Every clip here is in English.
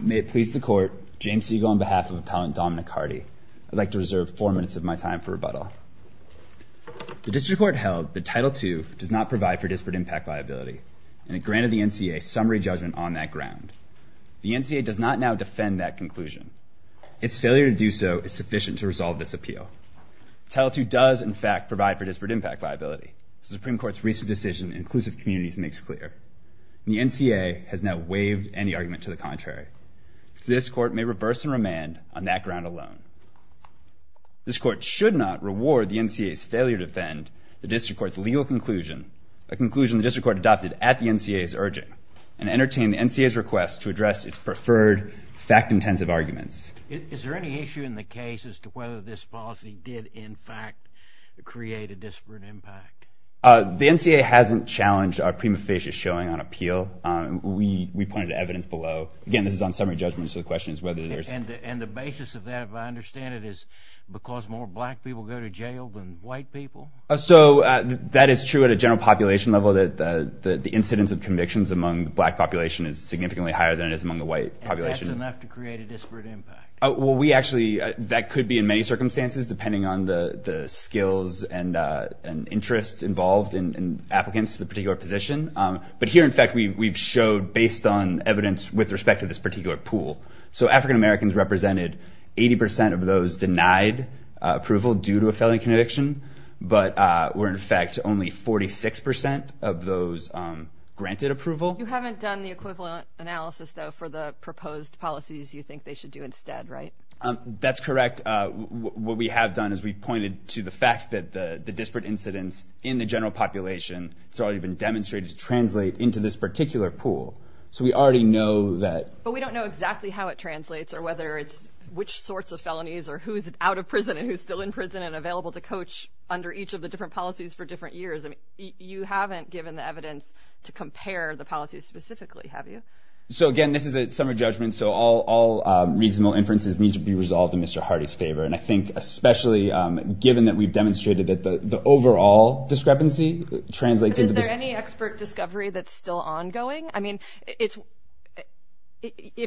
May it please the court, James Siegel on behalf of Appellant Dominic Hardie, I'd like to reserve four minutes of my time for rebuttal. The District Court held that Title II does not provide for disparate impact viability and it granted the NCAA summary judgment on that ground. The NCAA does not now defend that conclusion. Its failure to do so is sufficient to resolve this appeal. Title II does in fact provide for disparate impact viability. The NCAA has now waived any argument to the contrary. This court may reverse and remand on that ground alone. This court should not reward the NCAA's failure to defend the District Court's legal conclusion, a conclusion the District Court adopted at the NCAA's urging, and entertain the NCAA's request to address its preferred fact-intensive arguments. Is there any issue in the case as to whether this policy did in fact create a disparate impact? The NCAA hasn't challenged our prima facie showing on appeal. We pointed to evidence below. Again, this is on summary judgment, so the question is whether there's... And the basis of that, if I understand it, is because more black people go to jail than white people? So that is true at a general population level, that the incidence of convictions among the black population is significantly higher than it is among the white population. And that's enough to create a disparate impact? Well, we actually, that could be in many circumstances depending on the skills and interests involved in applicants to the particular position. But here, in fact, we've showed, based on evidence with respect to this particular pool, so African Americans represented 80% of those denied approval due to a failing conviction, but were in fact only 46% of those granted approval. You haven't done the equivalent analysis though for the proposed policies you think they should do instead, right? That's What we have done is we've pointed to the fact that the disparate incidence in the general population has already been demonstrated to translate into this particular pool. So we already know that... But we don't know exactly how it translates or whether it's which sorts of felonies or who's out of prison and who's still in prison and available to coach under each of the different policies for different years. I mean, you haven't given the evidence to compare the policies specifically, have you? So again, this is a summary judgment, so all reasonable inferences need to be resolved in Mr. Hardy's favor. And I think especially given that we've demonstrated that the overall discrepancy translates into this... But is there any expert discovery that's still ongoing? I mean, if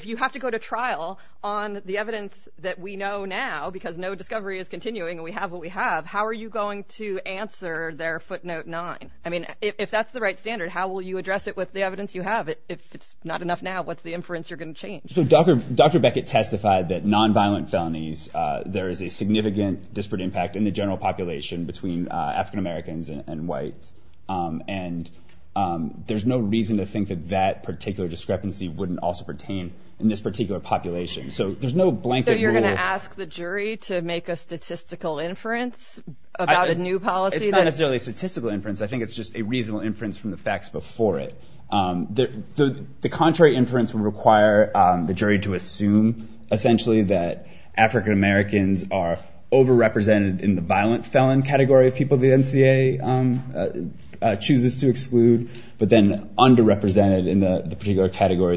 you have to go to trial on the evidence that we know now, because no discovery is continuing and we have what we have, how are you going to answer their footnote nine? I mean, if that's the right standard, how will you address it with the evidence you have? If it's not enough now, what's the inference you're going to change? So Dr. Beckett testified that non-violent felonies, there is a significant disparate impact in the general population between African-Americans and whites. And there's no reason to think that that particular discrepancy wouldn't also pertain in this particular population. So there's no blanket rule... So you're going to ask the jury to make a statistical inference about a new policy? It's not necessarily a statistical inference. I think it's just a reasonable inference from the facts before it. The contrary inference would require the jury to assume essentially that African-Americans are overrepresented in the violent felon category of people the NCA chooses to exclude, but then underrepresented in the particular category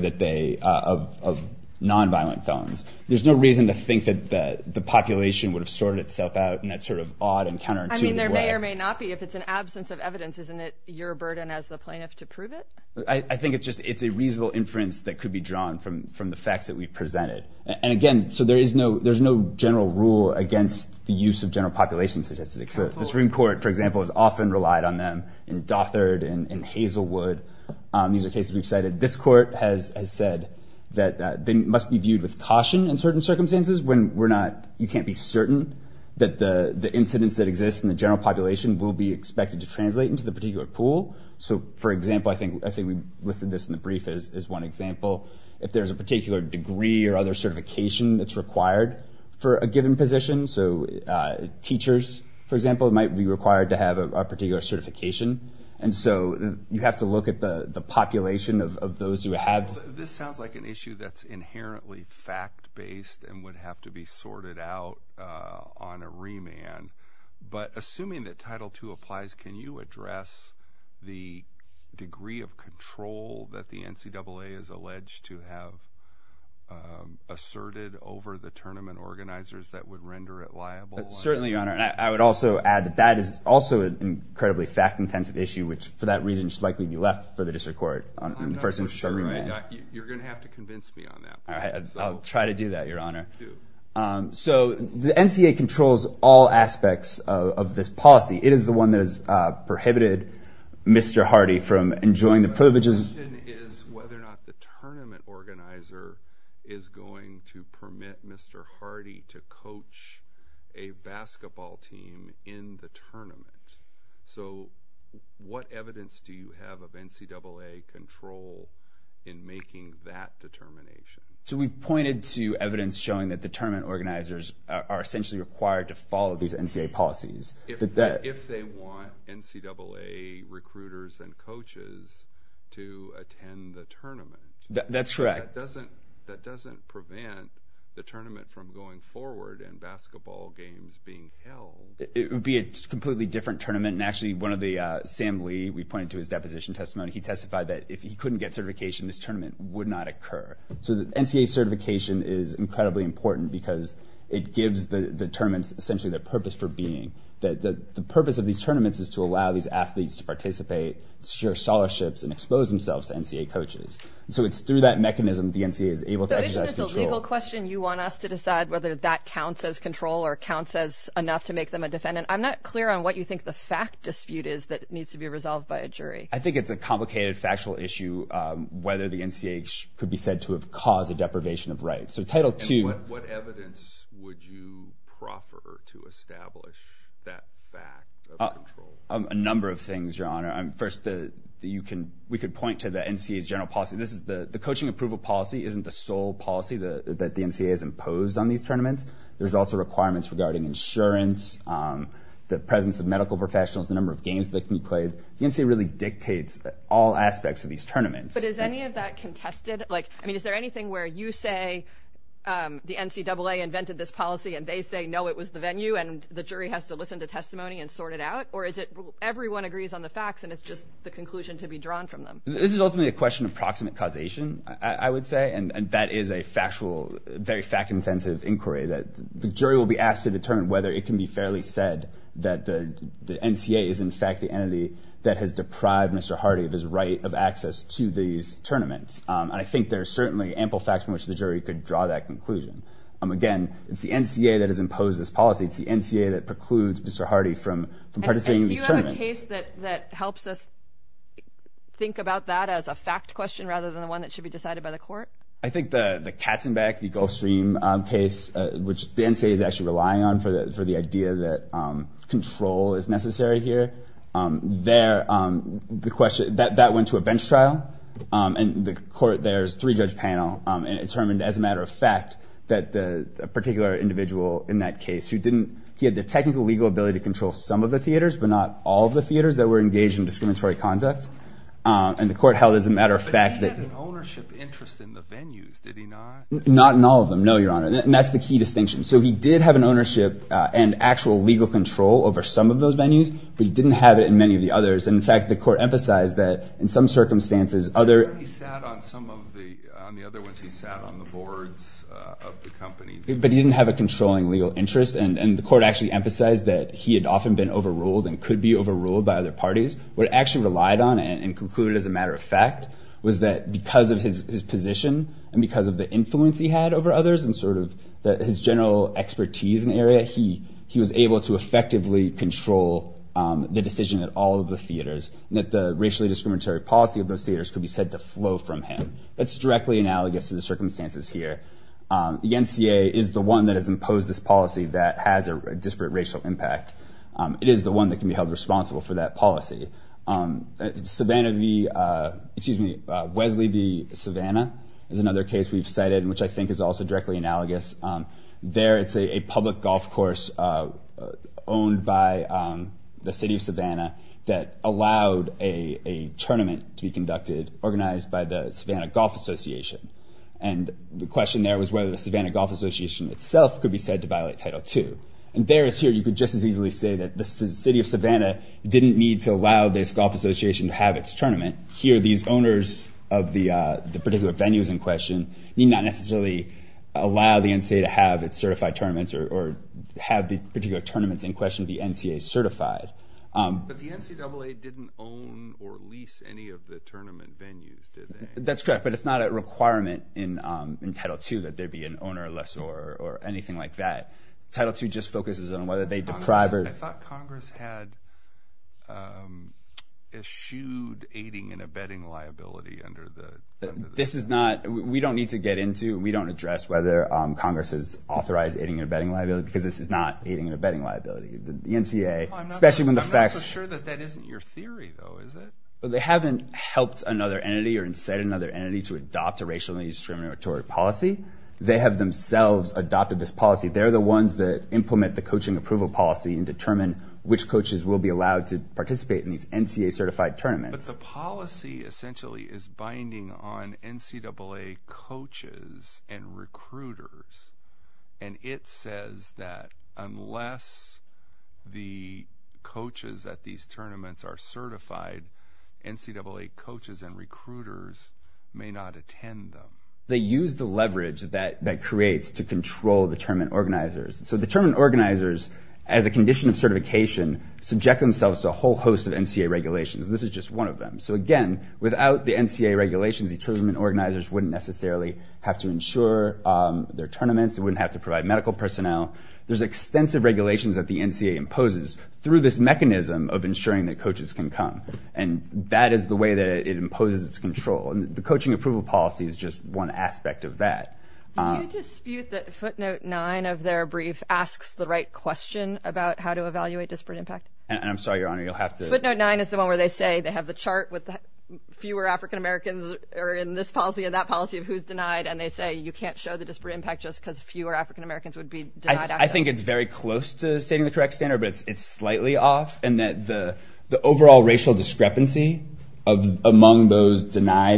of non-violent felons. There's no reason to think that the population would have sorted itself out in that sort of odd and counter-intuitive way. There may not be if it's an absence of evidence, isn't it your burden as the plaintiff to prove it? I think it's just, it's a reasonable inference that could be drawn from the facts that we've presented. And again, so there's no general rule against the use of general population statistics. The Supreme Court, for example, has often relied on them in Dothard and Hazelwood. These are cases we've cited. This court has said that they must be viewed with caution in certain circumstances when you can't be certain that the incidents that exist in the general population will be expected to translate into the particular pool. So for example, I think we listed this in the brief as one example. If there's a particular degree or other certification that's required for a given position, so teachers, for example, might be required to have a particular certification. And so you have to look at the population of those who have. This sounds like an issue that's inherently fact-based and would have to be sorted out on a remand. But assuming that Title II applies, can you address the degree of control that the NCAA has alleged to have asserted over the tournament organizers that would render it liable? Certainly, Your Honor. And I would also add that that is also an incredibly fact-intensive issue which, for that reason, should likely be left for the District Court in the first instance of a remand. I'm not so sure. You're going to have to convince me on that. I'll try to do that, Your Honor. You have to. So the NCAA controls all aspects of this policy. It is the one that has prohibited Mr. Hardy from enjoying the privileges. My question is whether or not the tournament organizer is going to permit Mr. Hardy to coach a basketball team in the tournament. So what evidence do you have of NCAA control in making that determination? So we've pointed to evidence showing that the tournament organizers are essentially required to follow these NCAA policies. If they want NCAA recruiters and coaches to attend the tournament. That's correct. That doesn't prevent the tournament from going forward and basketball games being held. It would be a completely different tournament. And actually, Sam Lee, we pointed to his deposition testimony, he testified that if he couldn't get certification, this tournament would not occur. So the NCAA certification is incredibly important because it gives the tournaments essentially the purpose for being. The purpose of these tournaments is to allow these athletes to participate, secure scholarships, and expose themselves to NCAA coaches. So it's through that mechanism the NCAA is able to exercise control. So isn't it a legal question? You want us to decide whether that counts as control or counts as enough to make them a defendant? I'm not clear on what you think the fact dispute is that needs to be resolved by a jury. I think it's a complicated, factual issue whether the NCAA could be said to have caused a deprivation of rights. So Title II. And what evidence would you proffer to establish that fact of control? A number of things, Your Honor. First, we could point to the NCAA's general policy. The coaching approval policy isn't the sole policy that the NCAA has imposed on these tournaments. There's also requirements regarding insurance, the presence of medical professionals, the number of games that can be played. The NCAA really dictates all aspects of these tournaments. But is any of that contested? Is there anything where you say the NCAA invented this policy and they say, no, it was the venue and the jury has to listen to testimony and sort it out? Or is it everyone agrees on the facts and it's just the conclusion to be drawn from them? This is ultimately a question of proximate causation, I would say. And that is a factual, very fact-intensive inquiry that the jury will be asked to determine whether it can be fairly said that the NCAA is, in fact, the entity that has deprived Mr. Hardy of his right of access to these tournaments. And I think there are certainly ample facts from which the jury could draw that conclusion. Again, it's the NCAA that has imposed this policy. It's the NCAA that precludes Mr. Hardy from participating in these tournaments. And do you have a case that helps us think about that as a fact question rather than the one that should be decided by the court? I think the Katzenbeck, the Gulfstream case, which the NCAA is actually relying on for the idea that control is necessary here, that went to a bench trial. And the court there's three-judge panel and determined as a matter of fact that the particular individual in that case, he had the technical legal ability to control some of the theaters but not all of the theaters that were engaged in discriminatory conduct. And the court held as a matter of fact that... But he had an ownership interest in the venues, did he not? Not in all of them, no, Your Honor. And that's the key distinction. So he did have an ownership and actual legal control over some of those venues, but he didn't have it in many of the others. And in fact, the court emphasized that in some circumstances, other... He sat on some of the, on the other ones, he sat on the boards of the companies. But he didn't have a controlling legal interest. And the court actually emphasized that he had often been overruled and could be overruled by other parties. What it actually relied on and concluded as a matter of fact was that because of his position and because of the influence he had over others and sort of his general expertise in the area, he was able to effectively control the decision at all of the theaters and that the racially discriminatory policy of those theaters could be said to flow from him. That's directly analogous to the circumstances here. The NCA is the one that has imposed this policy that has a disparate racial impact. It is the one that can be held responsible for that policy. Savannah v., excuse me, Wesley v. Savannah is another case we've cited, which I think is also directly analogous. There it's a public golf course owned by the city of Savannah that allowed a tournament to be conducted, organized by the Savannah Golf Association. And the question there was whether the Savannah Golf Association itself could be said to violate Title II. And there is here you could just as easily say that the city of Savannah didn't need to allow this golf association to have its tournament. Here these owners of the particular venues in question need not necessarily allow the NCA to have its certified tournaments or have the particular tournaments in question be NCA certified. But the NCAA didn't own or lease any of the tournament venues, did they? That's correct, but it's not a requirement in Title II that there be an owner or lessor or anything like that. Title II just focuses on whether they deprive or... I thought Congress had eschewed aiding and abetting liability under the... This is not... We don't need to get into... We don't address whether Congress has authorized aiding and abetting liability because this is not aiding and abetting liability. The NCA, especially when the facts... I'm not so sure that that isn't your theory though, is it? They haven't helped another entity or said another entity to adopt a racially discriminatory policy. They have themselves adopted this policy. They're the ones that implement the coaching approval policy and determine which coaches will be allowed to participate in these NCA certified tournaments. But the policy essentially is binding on NCAA coaches and recruiters, and it says that unless the coaches at these tournaments are certified, NCAA coaches and recruiters may not attend them. They use the leverage that that creates to control the tournament organizers. So the tournament organizers, as a condition of certification, subject themselves to a whole host of NCA regulations. This is just one of them. So again, without the NCA regulations, the tournament organizers wouldn't necessarily have to insure their tournaments, they wouldn't have to provide medical personnel. There's extensive regulations that the NCA imposes through this mechanism of insuring that coaches can come, and that is the way that it imposes its control. The coaching approval policy is just one aspect of that. Do you dispute that footnote 9 of their brief asks the right question about how to evaluate disparate impact? I'm sorry, Your Honor, you'll have to... Footnote 9 is the one where they say they have the chart with fewer African-Americans are in this policy and that policy of who's denied, and they say you can't show the disparate impact just because fewer African-Americans would be denied access. I think it's very close to stating the correct standard, but it's slightly off in that the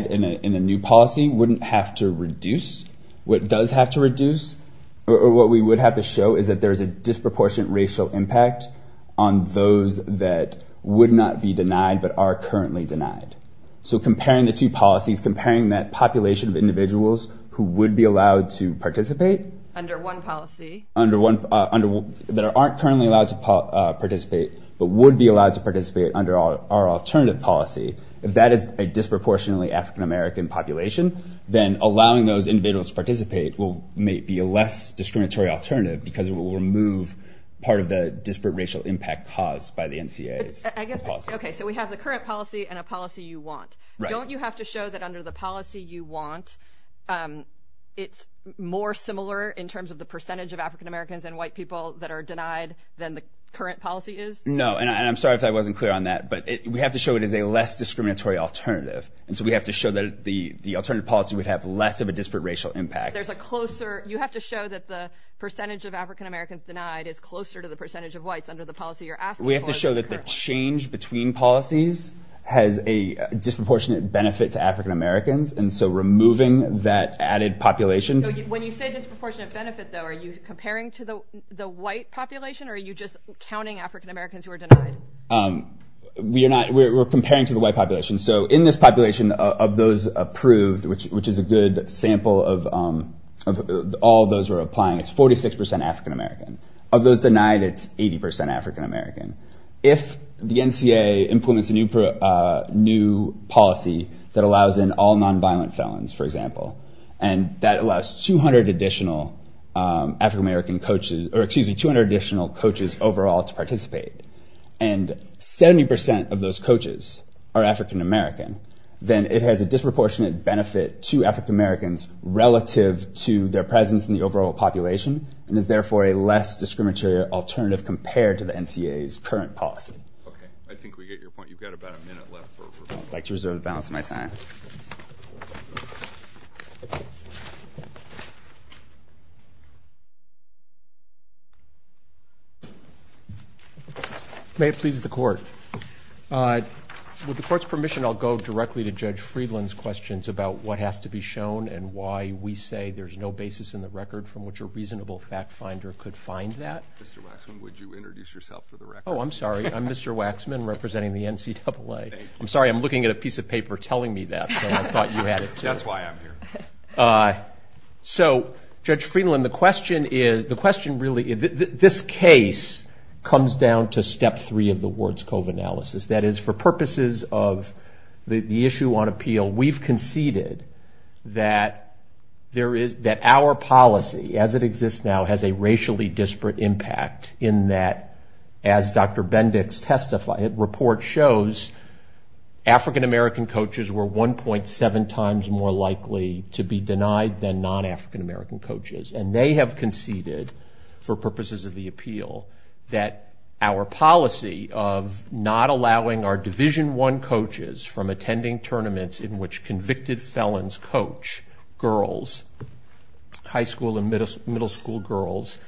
in a new policy wouldn't have to reduce what does have to reduce, or what we would have to show is that there's a disproportionate racial impact on those that would not be denied, but are currently denied. So comparing the two policies, comparing that population of individuals who would be allowed to participate... Under one policy. Under one... That aren't currently allowed to participate, but would be allowed to participate under our alternative policy, if that is a disproportionately African-American population, then allowing those individuals to participate may be a less discriminatory alternative because it will remove part of the disparate racial impact caused by the NCA's policy. I guess... Okay, so we have the current policy and a policy you want. Don't you have to show that under the policy you want, it's more similar in terms of the percentage of African-Americans and white people that are denied than the current policy is? No, and I'm sorry if I wasn't clear on that, but we have to show it as a less discriminatory alternative, and so we have to show that the alternative policy would have less of a disparate racial impact. There's a closer... You have to show that the percentage of African-Americans denied is closer to the percentage of whites under the policy you're asking for than the current one. We have to show that the change between policies has a disproportionate benefit to African-Americans, and so removing that added population... When you say disproportionate benefit, though, are you comparing to the white population or are you just counting African-Americans who are denied? We're comparing to the white population, so in this population of those approved, which is a good sample of all those who are applying, it's 46% African-American. Of those denied, it's 80% African-American. If the NCA implements a new policy that allows in all non-violent felons, for example, and that allows 200 additional African-American coaches, or excuse me, 200 additional coaches overall to participate, and 70% of those coaches are African-American, then it has a disproportionate benefit to African-Americans relative to their presence in the overall population and is therefore a less discriminatory alternative compared to the NCA's current policy. Okay. I think we get your point. You've got about a minute left. I'd like to reserve the balance of my time. Thank you very much. May it please the Court. With the Court's permission, I'll go directly to Judge Friedland's questions about what has to be shown and why we say there's no basis in the record from which a reasonable fact finder could find that. Mr. Waxman, would you introduce yourself for the record? Oh, I'm sorry. I'm Mr. Waxman representing the NCAA. Thank you. I'm sorry. I'm looking at a piece of paper telling me that, so I thought you had it too. That's why I'm here. So Judge Friedland, the question really, this case comes down to step three of the Ward's Cove analysis. That is, for purposes of the issue on appeal, we've conceded that our policy as it exists now has a racially disparate impact in that, as Dr. Bendix testified, the report shows African-American coaches were 1.7 times more likely to be denied than non-African-American coaches. And they have conceded, for purposes of the appeal, that our policy of not allowing our Division I coaches from attending tournaments in which convicted felons coach girls, high school girls,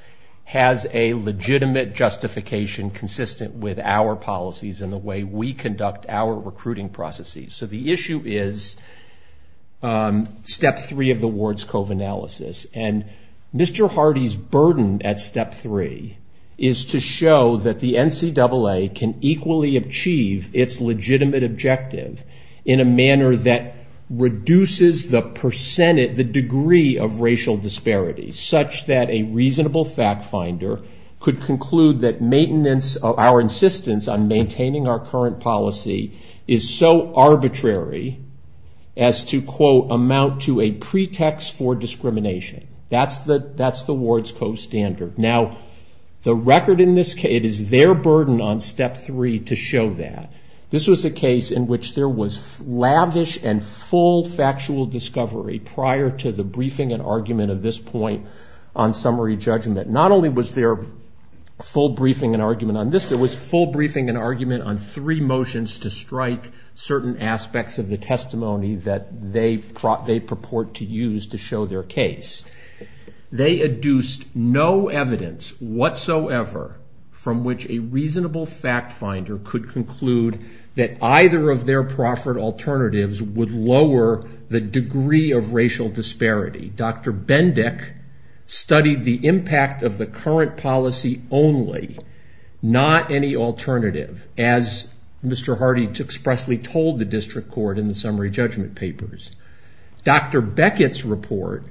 has a legitimate justification consistent with our policies and the way we conduct our recruiting processes. So the issue is step three of the Ward's Cove analysis. And Mr. Hardy's burden at step three is to show that the NCAA can equally achieve its legitimate objective in a manner that reduces the percentage, the degree of racial disparity such that a reasonable fact finder could conclude that maintenance of our insistence on maintaining our current policy is so arbitrary as to, quote, amount to a pretext for discrimination. That's the Ward's Cove standard. Now the record in this case, it is their burden on step three to show that. This was a case in which there was lavish and full factual discovery prior to the briefing and argument of this point on summary judgment. Not only was there full briefing and argument on this, there was full briefing and argument on three motions to strike certain aspects of the testimony that they purport to use to show their case. They adduced no evidence whatsoever from which a reasonable fact finder could conclude that Dr. Bendick studied the impact of the current policy only, not any alternative, as Mr. Hardy expressly told the district court in the summary judgment papers. Dr. Beckett's report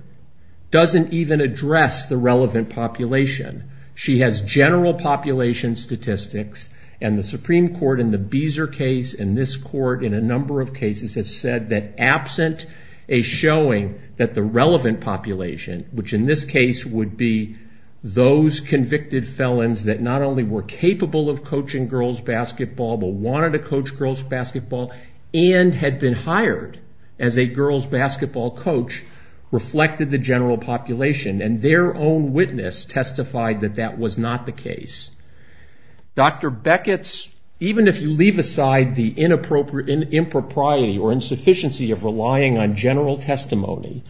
doesn't even address the relevant population. She has general population statistics and the Supreme Court in the Beezer case and this number of cases have said that absent a showing that the relevant population, which in this case would be those convicted felons that not only were capable of coaching girls' basketball but wanted to coach girls' basketball and had been hired as a girls' basketball coach, reflected the general population and their own witness testified that that was not the case. Dr. Beckett's, even if you leave aside the impropriety or insufficiency of relying on general testimony,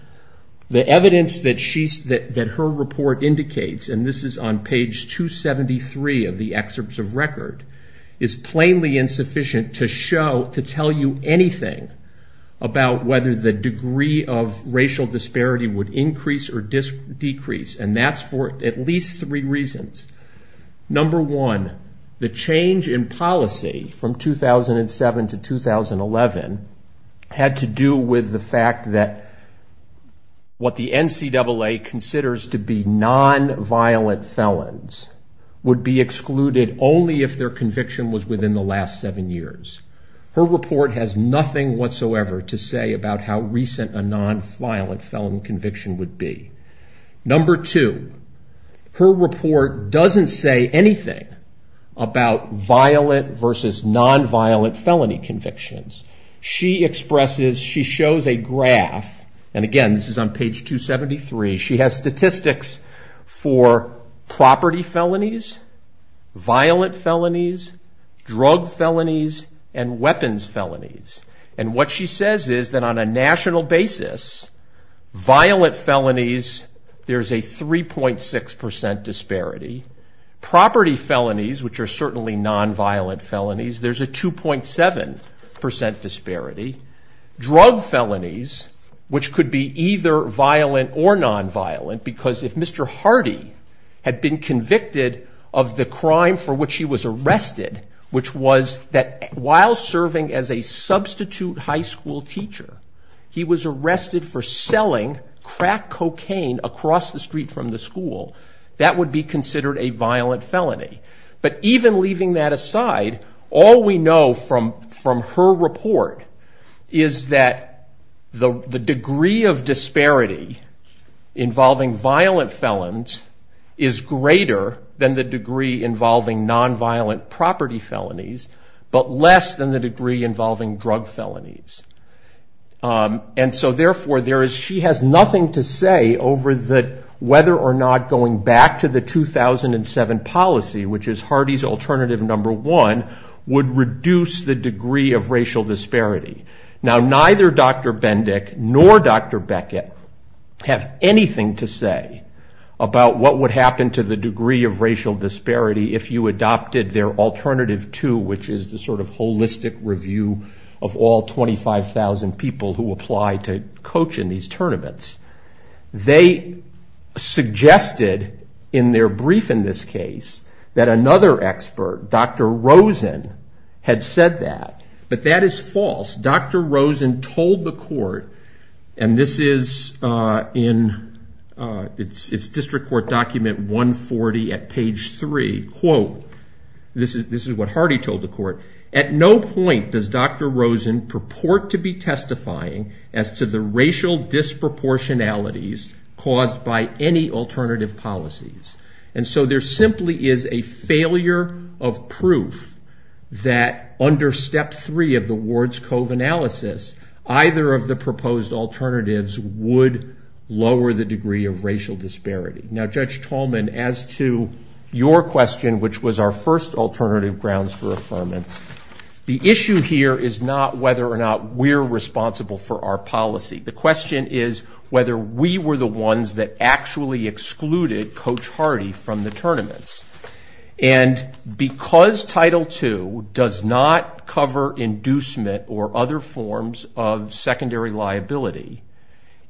the evidence that her report indicates, and this is on page 273 of the excerpts of record, is plainly insufficient to show, to tell you anything about whether the degree of racial disparity would increase or decrease and that's for at least three reasons. Number one, the change in policy from 2007 to 2011 had to do with the fact that what the NCAA considers to be non-violent felons would be excluded only if their conviction was within the last seven years. Her report has nothing whatsoever to say about how recent a non-violent felon conviction would be. Number two, her report doesn't say anything about violent versus non-violent felony convictions. She expresses, she shows a graph, and again this is on page 273, she has statistics for property felonies, violent felonies, drug felonies, and weapons felonies. And what she says is that on a national basis, violent felonies, there's a 3.6% disparity. Property felonies, which are certainly non-violent felonies, there's a 2.7% disparity. Drug felonies, which could be either violent or non-violent, because if Mr. Hardy had been a prostitute high school teacher, he was arrested for selling crack cocaine across the street from the school, that would be considered a violent felony. But even leaving that aside, all we know from her report is that the degree of disparity involving violent felons is greater than the degree involving non-violent property felonies, but less than the degree involving drug felonies. And so therefore, she has nothing to say over whether or not going back to the 2007 policy, which is Hardy's alternative number one, would reduce the degree of racial disparity. Now neither Dr. Bendick nor Dr. Beckett have anything to say about what would happen to the degree of racial disparity if you adopted their alternative two, which is the sort of holistic review of all 25,000 people who apply to coach in these tournaments. They suggested in their brief in this case that another expert, Dr. Rosen, had said that. But that is false. Dr. Rosen told the court, and this is in its district court document 140 at page three, quote, this is what Hardy told the court, at no point does Dr. Rosen purport to be testifying as to the racial disproportionalities caused by any alternative policies. And so there simply is a failure of proof that under step three of the Ward's Cove analysis, either of the proposed alternatives would lower the degree of racial disparity. Now Judge Tallman, as to your question, which was our first alternative grounds for affirmance, the issue here is not whether or not we're responsible for our policy. The question is whether we were the ones that actually excluded Coach Hardy from the tournaments. And because Title II does not cover inducement or other forms of secondary liability,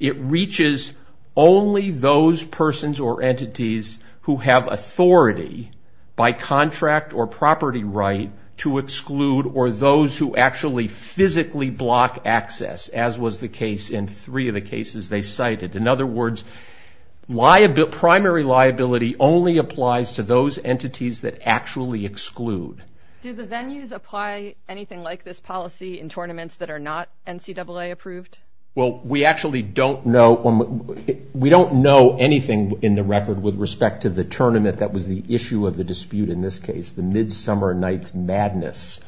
it reaches only those persons or entities who have authority by contract or property right to exclude or those who actually physically block access, as was the case in three of the cases they cited. In other words, primary liability only applies to those entities that actually exclude. Do the venues apply anything like this policy in tournaments that are not NCAA approved? Well, we actually don't know. We don't know anything in the record with respect to the tournament that was the issue of the dispute in this case, the Midsummer Night's Madness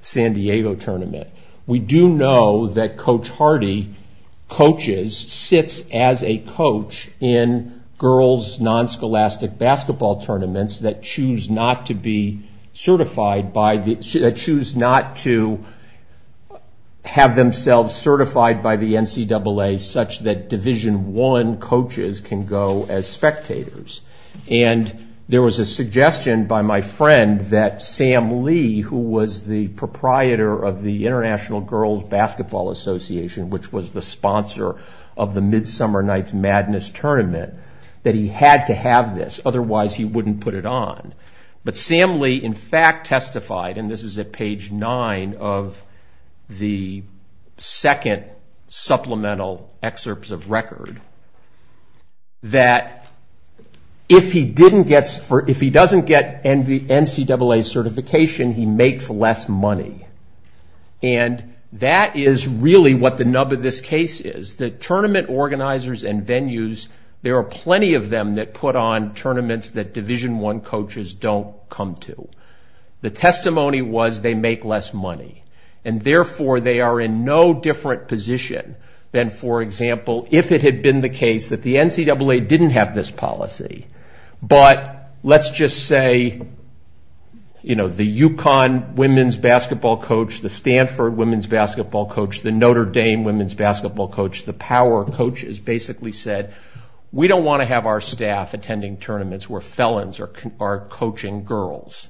San Diego tournament. We do know that Coach Hardy coaches, sits as a coach in girls' non-scholastic basketball tournaments that choose not to be certified by the, that choose not to have themselves certified by the NCAA such that Division I coaches can go as spectators. And there was a suggestion by my friend that Sam Lee, who was the proprietor of the International Girls' Basketball Association, which was the sponsor of the Midsummer Night's Madness tournament, that he had to have this. Otherwise, he wouldn't put it on. But Sam Lee, in fact, testified, and this is at page nine of the second supplemental excerpts of record, that if he didn't get, if he doesn't get NCAA certification, he makes less money. And that is really what the nub of this case is. The tournament organizers and venues, there are plenty of them that put on tournaments that Division I coaches don't come to. The testimony was they make less money. And therefore, they are in no different position than, for example, if it had been the case that the NCAA didn't have this policy. But let's just say, you know, the Yukon women's basketball coach, the Stanford women's basketball coach, the Notre Dame women's basketball coach, the power coaches basically said, we don't want to have our staff attending tournaments where felons are coaching girls.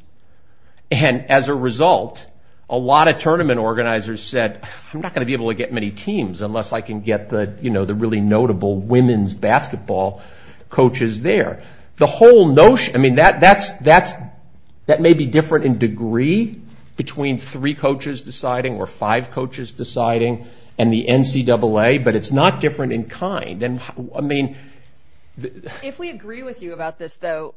And as a result, a lot of tournament organizers said, I'm not going to be able to get many teams unless I can get the, you know, the really notable women's basketball coaches there. The whole notion, I mean, that's, that may be different in degree between three coaches deciding or five coaches deciding and the NCAA, but it's not different in kind. And, I mean. If we agree with you about this, though,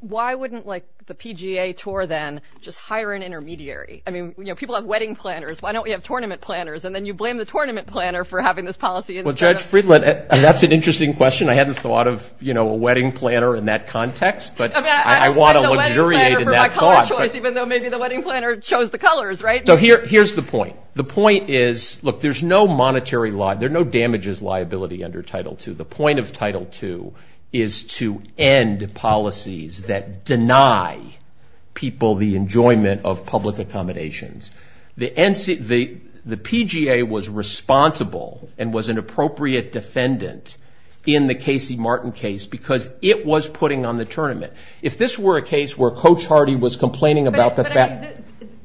why wouldn't like the PGA tour then just hire an intermediary? I mean, you know, people have wedding planners. Why don't we have tournament planners? And then you blame the tournament planner for having this policy. Well, Judge Friedland, that's an interesting question. I hadn't thought of, you know, a wedding planner in that context. But I want to luxuriate in that thought. Even though maybe the wedding planner chose the colors, right? So here's the point. The point is, look, there's no monetary law. There are no damages liability under Title II. The point of Title II is to end policies that deny people the enjoyment of public accommodations. The PGA was responsible and was an appropriate defendant in the Casey Martin case because it was putting on the tournament. If this were a case where Coach Hardy was complaining about the fact.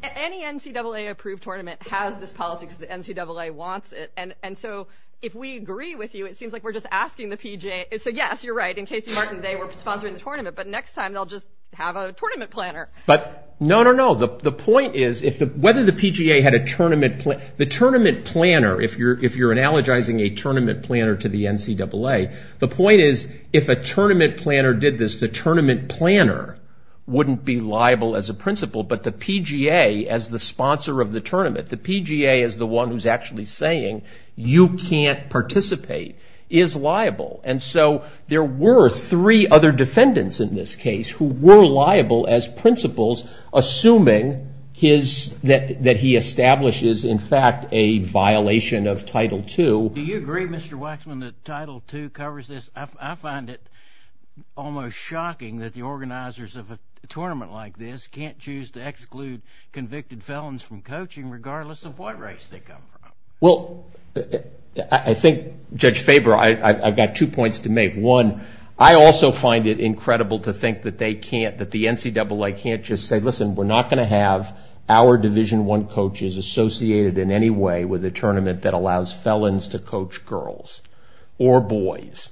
Any NCAA approved tournament has this policy because the NCAA wants it. And so if we agree with you, it seems like we're just asking the PGA. So yes, you're right. In Casey Martin, they were sponsoring the tournament. But next time, they'll just have a tournament planner. But no, no, no. The point is, whether the PGA had a tournament planner, if you're analogizing a tournament planner to the NCAA, the point is, if a tournament planner did this, the tournament planner wouldn't be liable as a principal. But the PGA, as the sponsor of the tournament, the PGA is the one who's actually saying, you can't participate, is liable. And so there were three other defendants in this case who were liable as principals, assuming that he establishes, in fact, a violation of Title II. Do you agree, Mr. Waxman, that Title II covers this? Well, I think, Judge Faber, I've got two points to make. One, I also find it incredible to think that they can't, that the NCAA can't just say, listen, we're not going to have our Division I coaches associated in any way with a tournament that allows felons to coach girls or boys.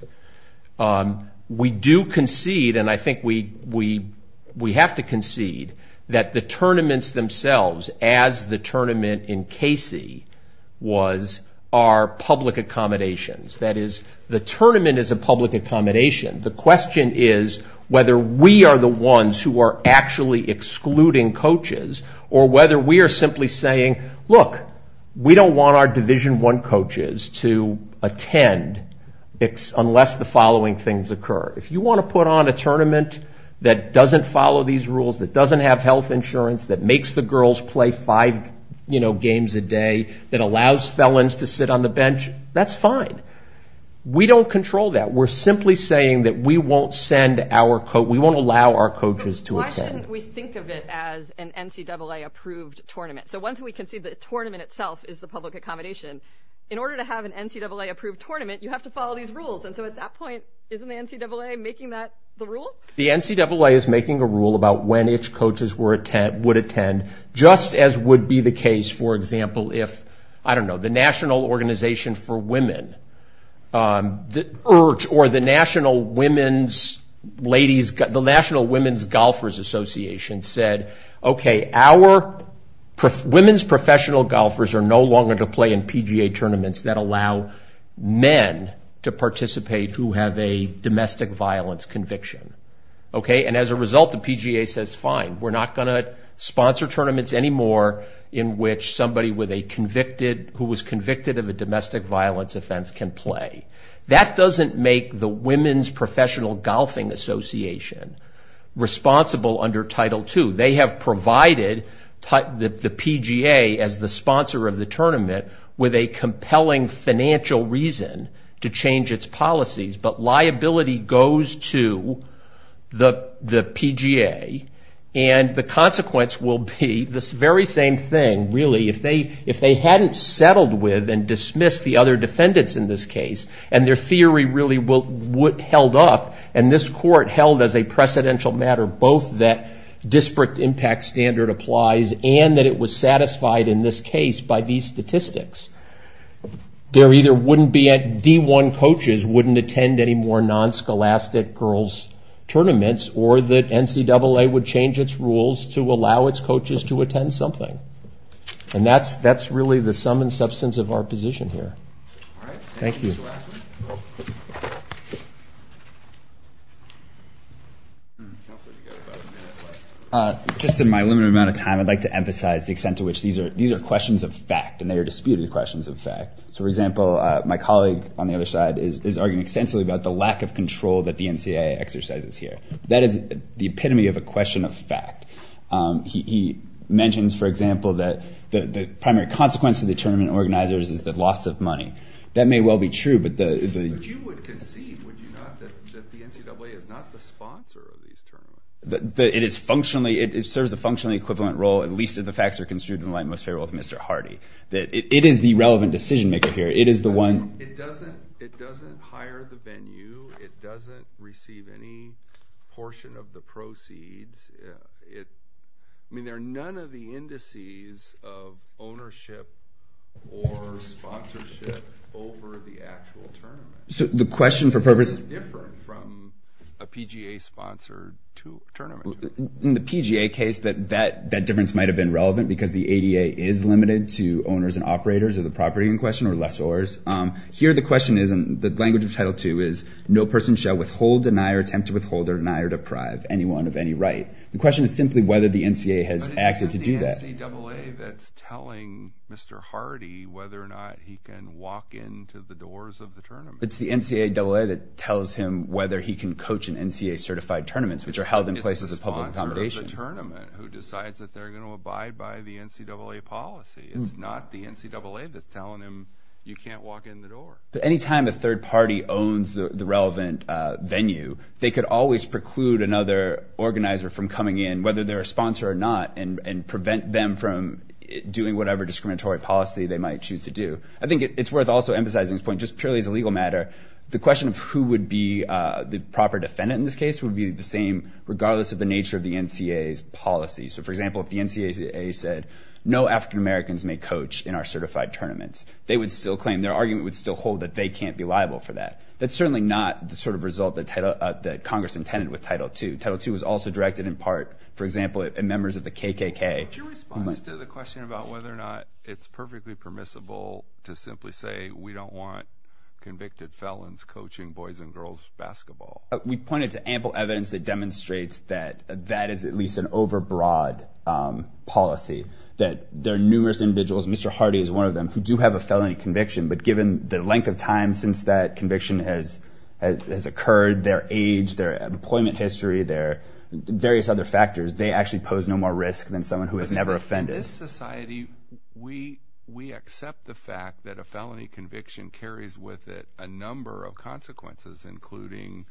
We do concede, and I think we have to concede, that the tournaments themselves, as the tournament in Casey, was our public accommodations. That is, the tournament is a public accommodation. The question is whether we are the ones who are actually excluding coaches or whether we are simply saying, look, we don't want our Division I coaches to attend unless the following things occur. If you want to put on a tournament that doesn't follow these rules, that doesn't have health insurance, that makes the girls play five, you know, games a day, that allows felons to sit on the bench, that's fine. We don't control that. We're simply saying that we won't send our, we won't allow our coaches to attend. But why shouldn't we think of it as an NCAA-approved tournament? So once we concede that the tournament itself is the public accommodation, in order to have an NCAA-approved tournament, you have to follow these rules. And so at that point, isn't the NCAA making that the rule? The NCAA is making a rule about when each coaches would attend, just as would be the case, for example, if, I don't know, the National Organization for Women, or the National Women's Ladies, the National Women's Golfers Association said, okay, our women's professional golfers are no longer to play in PGA tournaments that allow men to participate who have a domestic violence conviction, okay? And as a result, the PGA says, fine, we're not going to sponsor tournaments anymore in which somebody with a convicted, who was convicted of a domestic violence offense can play. That doesn't make the Women's Professional Golfing Association responsible under Title II. They have provided the PGA as the sponsor of the tournament with a compelling financial reason to change its policies. But liability goes to the PGA, and the consequence will be this very same thing, really. If they hadn't settled with and dismissed the other defendants in this case, and their theory really held up, and this court held as a precedential matter both that disparate impact standard applies, and that it was satisfied in this case by these statistics, there either wouldn't be, D1 coaches wouldn't attend any more non-scholastic girls' tournaments, or that NCAA would change its rules to allow its coaches to attend something. And that's really the sum and substance of our position here. Thank you. Just in my limited amount of time, I'd like to emphasize the extent to which these are questions of fact, and they are disputed questions of fact. So, for example, my colleague on the other side is arguing extensively about the lack of control that the NCAA exercises here. That is the epitome of a question of fact. He mentions, for example, that the primary consequence of the tournament organizers is the loss of money. That may well be true, but the... But you would concede, would you not, that the NCAA is not the sponsor of these tournaments? That it is functionally, it serves a functionally equivalent role, at least if the facts are construed in the light most favorable of Mr. Hardy. That it is the relevant decision-maker here. It is the one... It doesn't hire the venue. It doesn't receive any portion of the proceeds. I mean, there are none of the indices of ownership or sponsorship over the actual tournament. So the question for purpose... It's different from a PGA-sponsored tournament. In the PGA case, that difference might have been relevant because the ADA is limited to owners and operators of the property in question, or lessors. Here the question is, and the language of Title II is, no person shall withhold, deny, or attempt to withhold, or deny, or deprive anyone of any right. The question is simply whether the NCAA has acted to do that. But it isn't the NCAA that's telling Mr. Hardy whether or not he can walk into the doors of the tournament. It's the NCAA that tells him whether he can coach in NCAA-certified tournaments, which are held in places of public accommodation. It's the sponsor of the tournament who decides that they're going to abide by the NCAA policy. It's not the NCAA that's telling him you can't walk in the door. But any time a third party owns the relevant venue, they could always preclude another organizer from coming in, whether they're a sponsor or not, and prevent them from doing whatever discriminatory policy they might choose to do. I think it's worth also emphasizing this point just purely as a legal matter. The question of who would be the proper defendant in this case would be the same regardless of the nature of the NCAA's policy. So for example, if the NCAA said, no African-Americans may coach in our certified tournaments, they would still claim, their argument would still hold that they can't be liable for that. That's certainly not the sort of result that Congress intended with Title II. Title II was also directed in part, for example, at members of the KKK. Your response to the question about whether or not it's perfectly permissible to simply say we don't want convicted felons coaching boys and girls basketball. We pointed to ample evidence that demonstrates that that is at least an overbroad policy, that there are numerous individuals, Mr. Hardy is one of them, who do have a felony conviction. But given the length of time since that conviction has occurred, their age, their employment history, their various other factors, they actually pose no more risk than someone who has never offended. In this society, we accept the fact that a felony conviction carries with it a number of consequences, including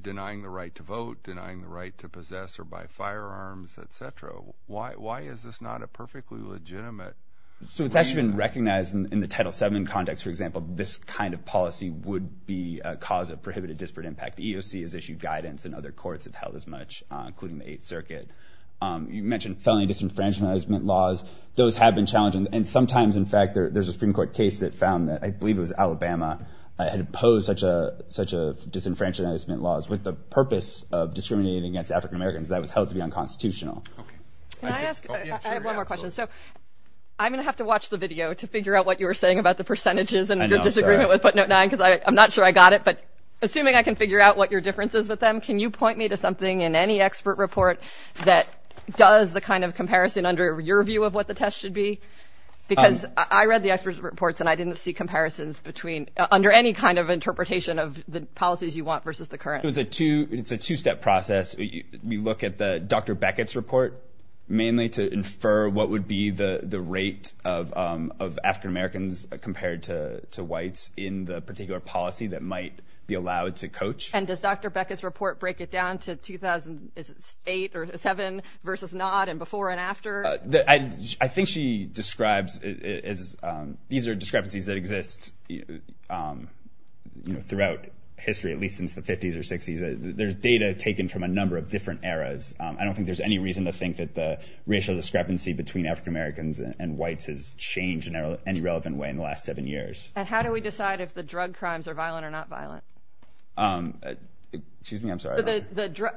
denying the right to vote, denying the right to possess or buy firearms, et cetera. Why is this not a perfectly legitimate reason? So it's actually been recognized in the Title VII context, for example, this kind of policy would be a cause of prohibited disparate impact. The EEOC has issued guidance and other courts have held as much, including the Eighth Circuit. You mentioned felony disenfranchisement laws. Those have been challenging. And sometimes, in fact, there's a Supreme Court case that found that, I believe it was Alabama, had opposed such a disenfranchisement laws with the purpose of discriminating against African Americans. That was held to be unconstitutional. Can I ask, I have one more question. So I'm going to have to watch the video to figure out what you were saying about the percentages and your disagreement with footnote nine, because I'm not sure I got it. But assuming I can figure out what your difference is with them, can you point me to something in any expert report that does the kind of comparison under your view of what the test should be? Because I read the experts' reports and I didn't see comparisons between, under any kind of interpretation of the policies you want versus the current. It was a two, it's a two-step process. We look at the Dr. Beckett's report mainly to infer what would be the rate of African Americans compared to whites in the particular policy that might be allowed to coach. And does Dr. Beckett's report break it down to 2008 or seven versus not, and before and after? I think she describes it as, these are discrepancies that exist, you know, throughout history, at least since the 50s or 60s. There's data taken from a number of different eras. I don't think there's any reason to think that the racial discrepancy between African Americans and whites has changed in any relevant way in the last seven years. And how do we decide if the drug crimes are violent or not violent? Excuse me, I'm sorry.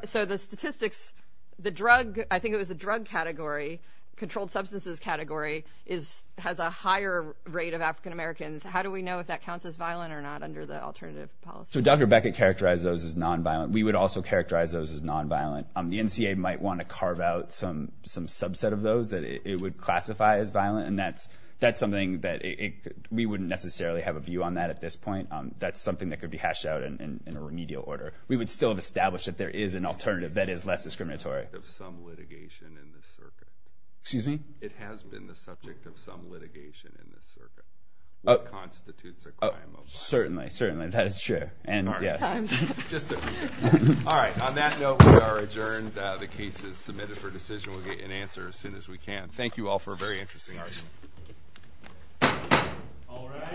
So the statistics, the drug, I think it was the drug category, controlled substances category, has a higher rate of African Americans. How do we know if that counts as violent or not under the alternative policy? So Dr. Beckett characterized those as nonviolent. We would also characterize those as nonviolent. The NCA might want to carve out some subset of those that it would classify as violent. And that's something that we wouldn't necessarily have a view on that at this point. That's something that could be hashed out in a remedial order. We would still have established that there is an alternative that is less discriminatory. It's the subject of some litigation in the circuit. Excuse me? It has been the subject of some litigation in the circuit. It constitutes a crime of violence. Certainly, certainly. That is true. And yeah. All right. On that note, we are adjourned. The case is submitted for decision. We'll get an answer as soon as we can. Thank you all for a very interesting argument.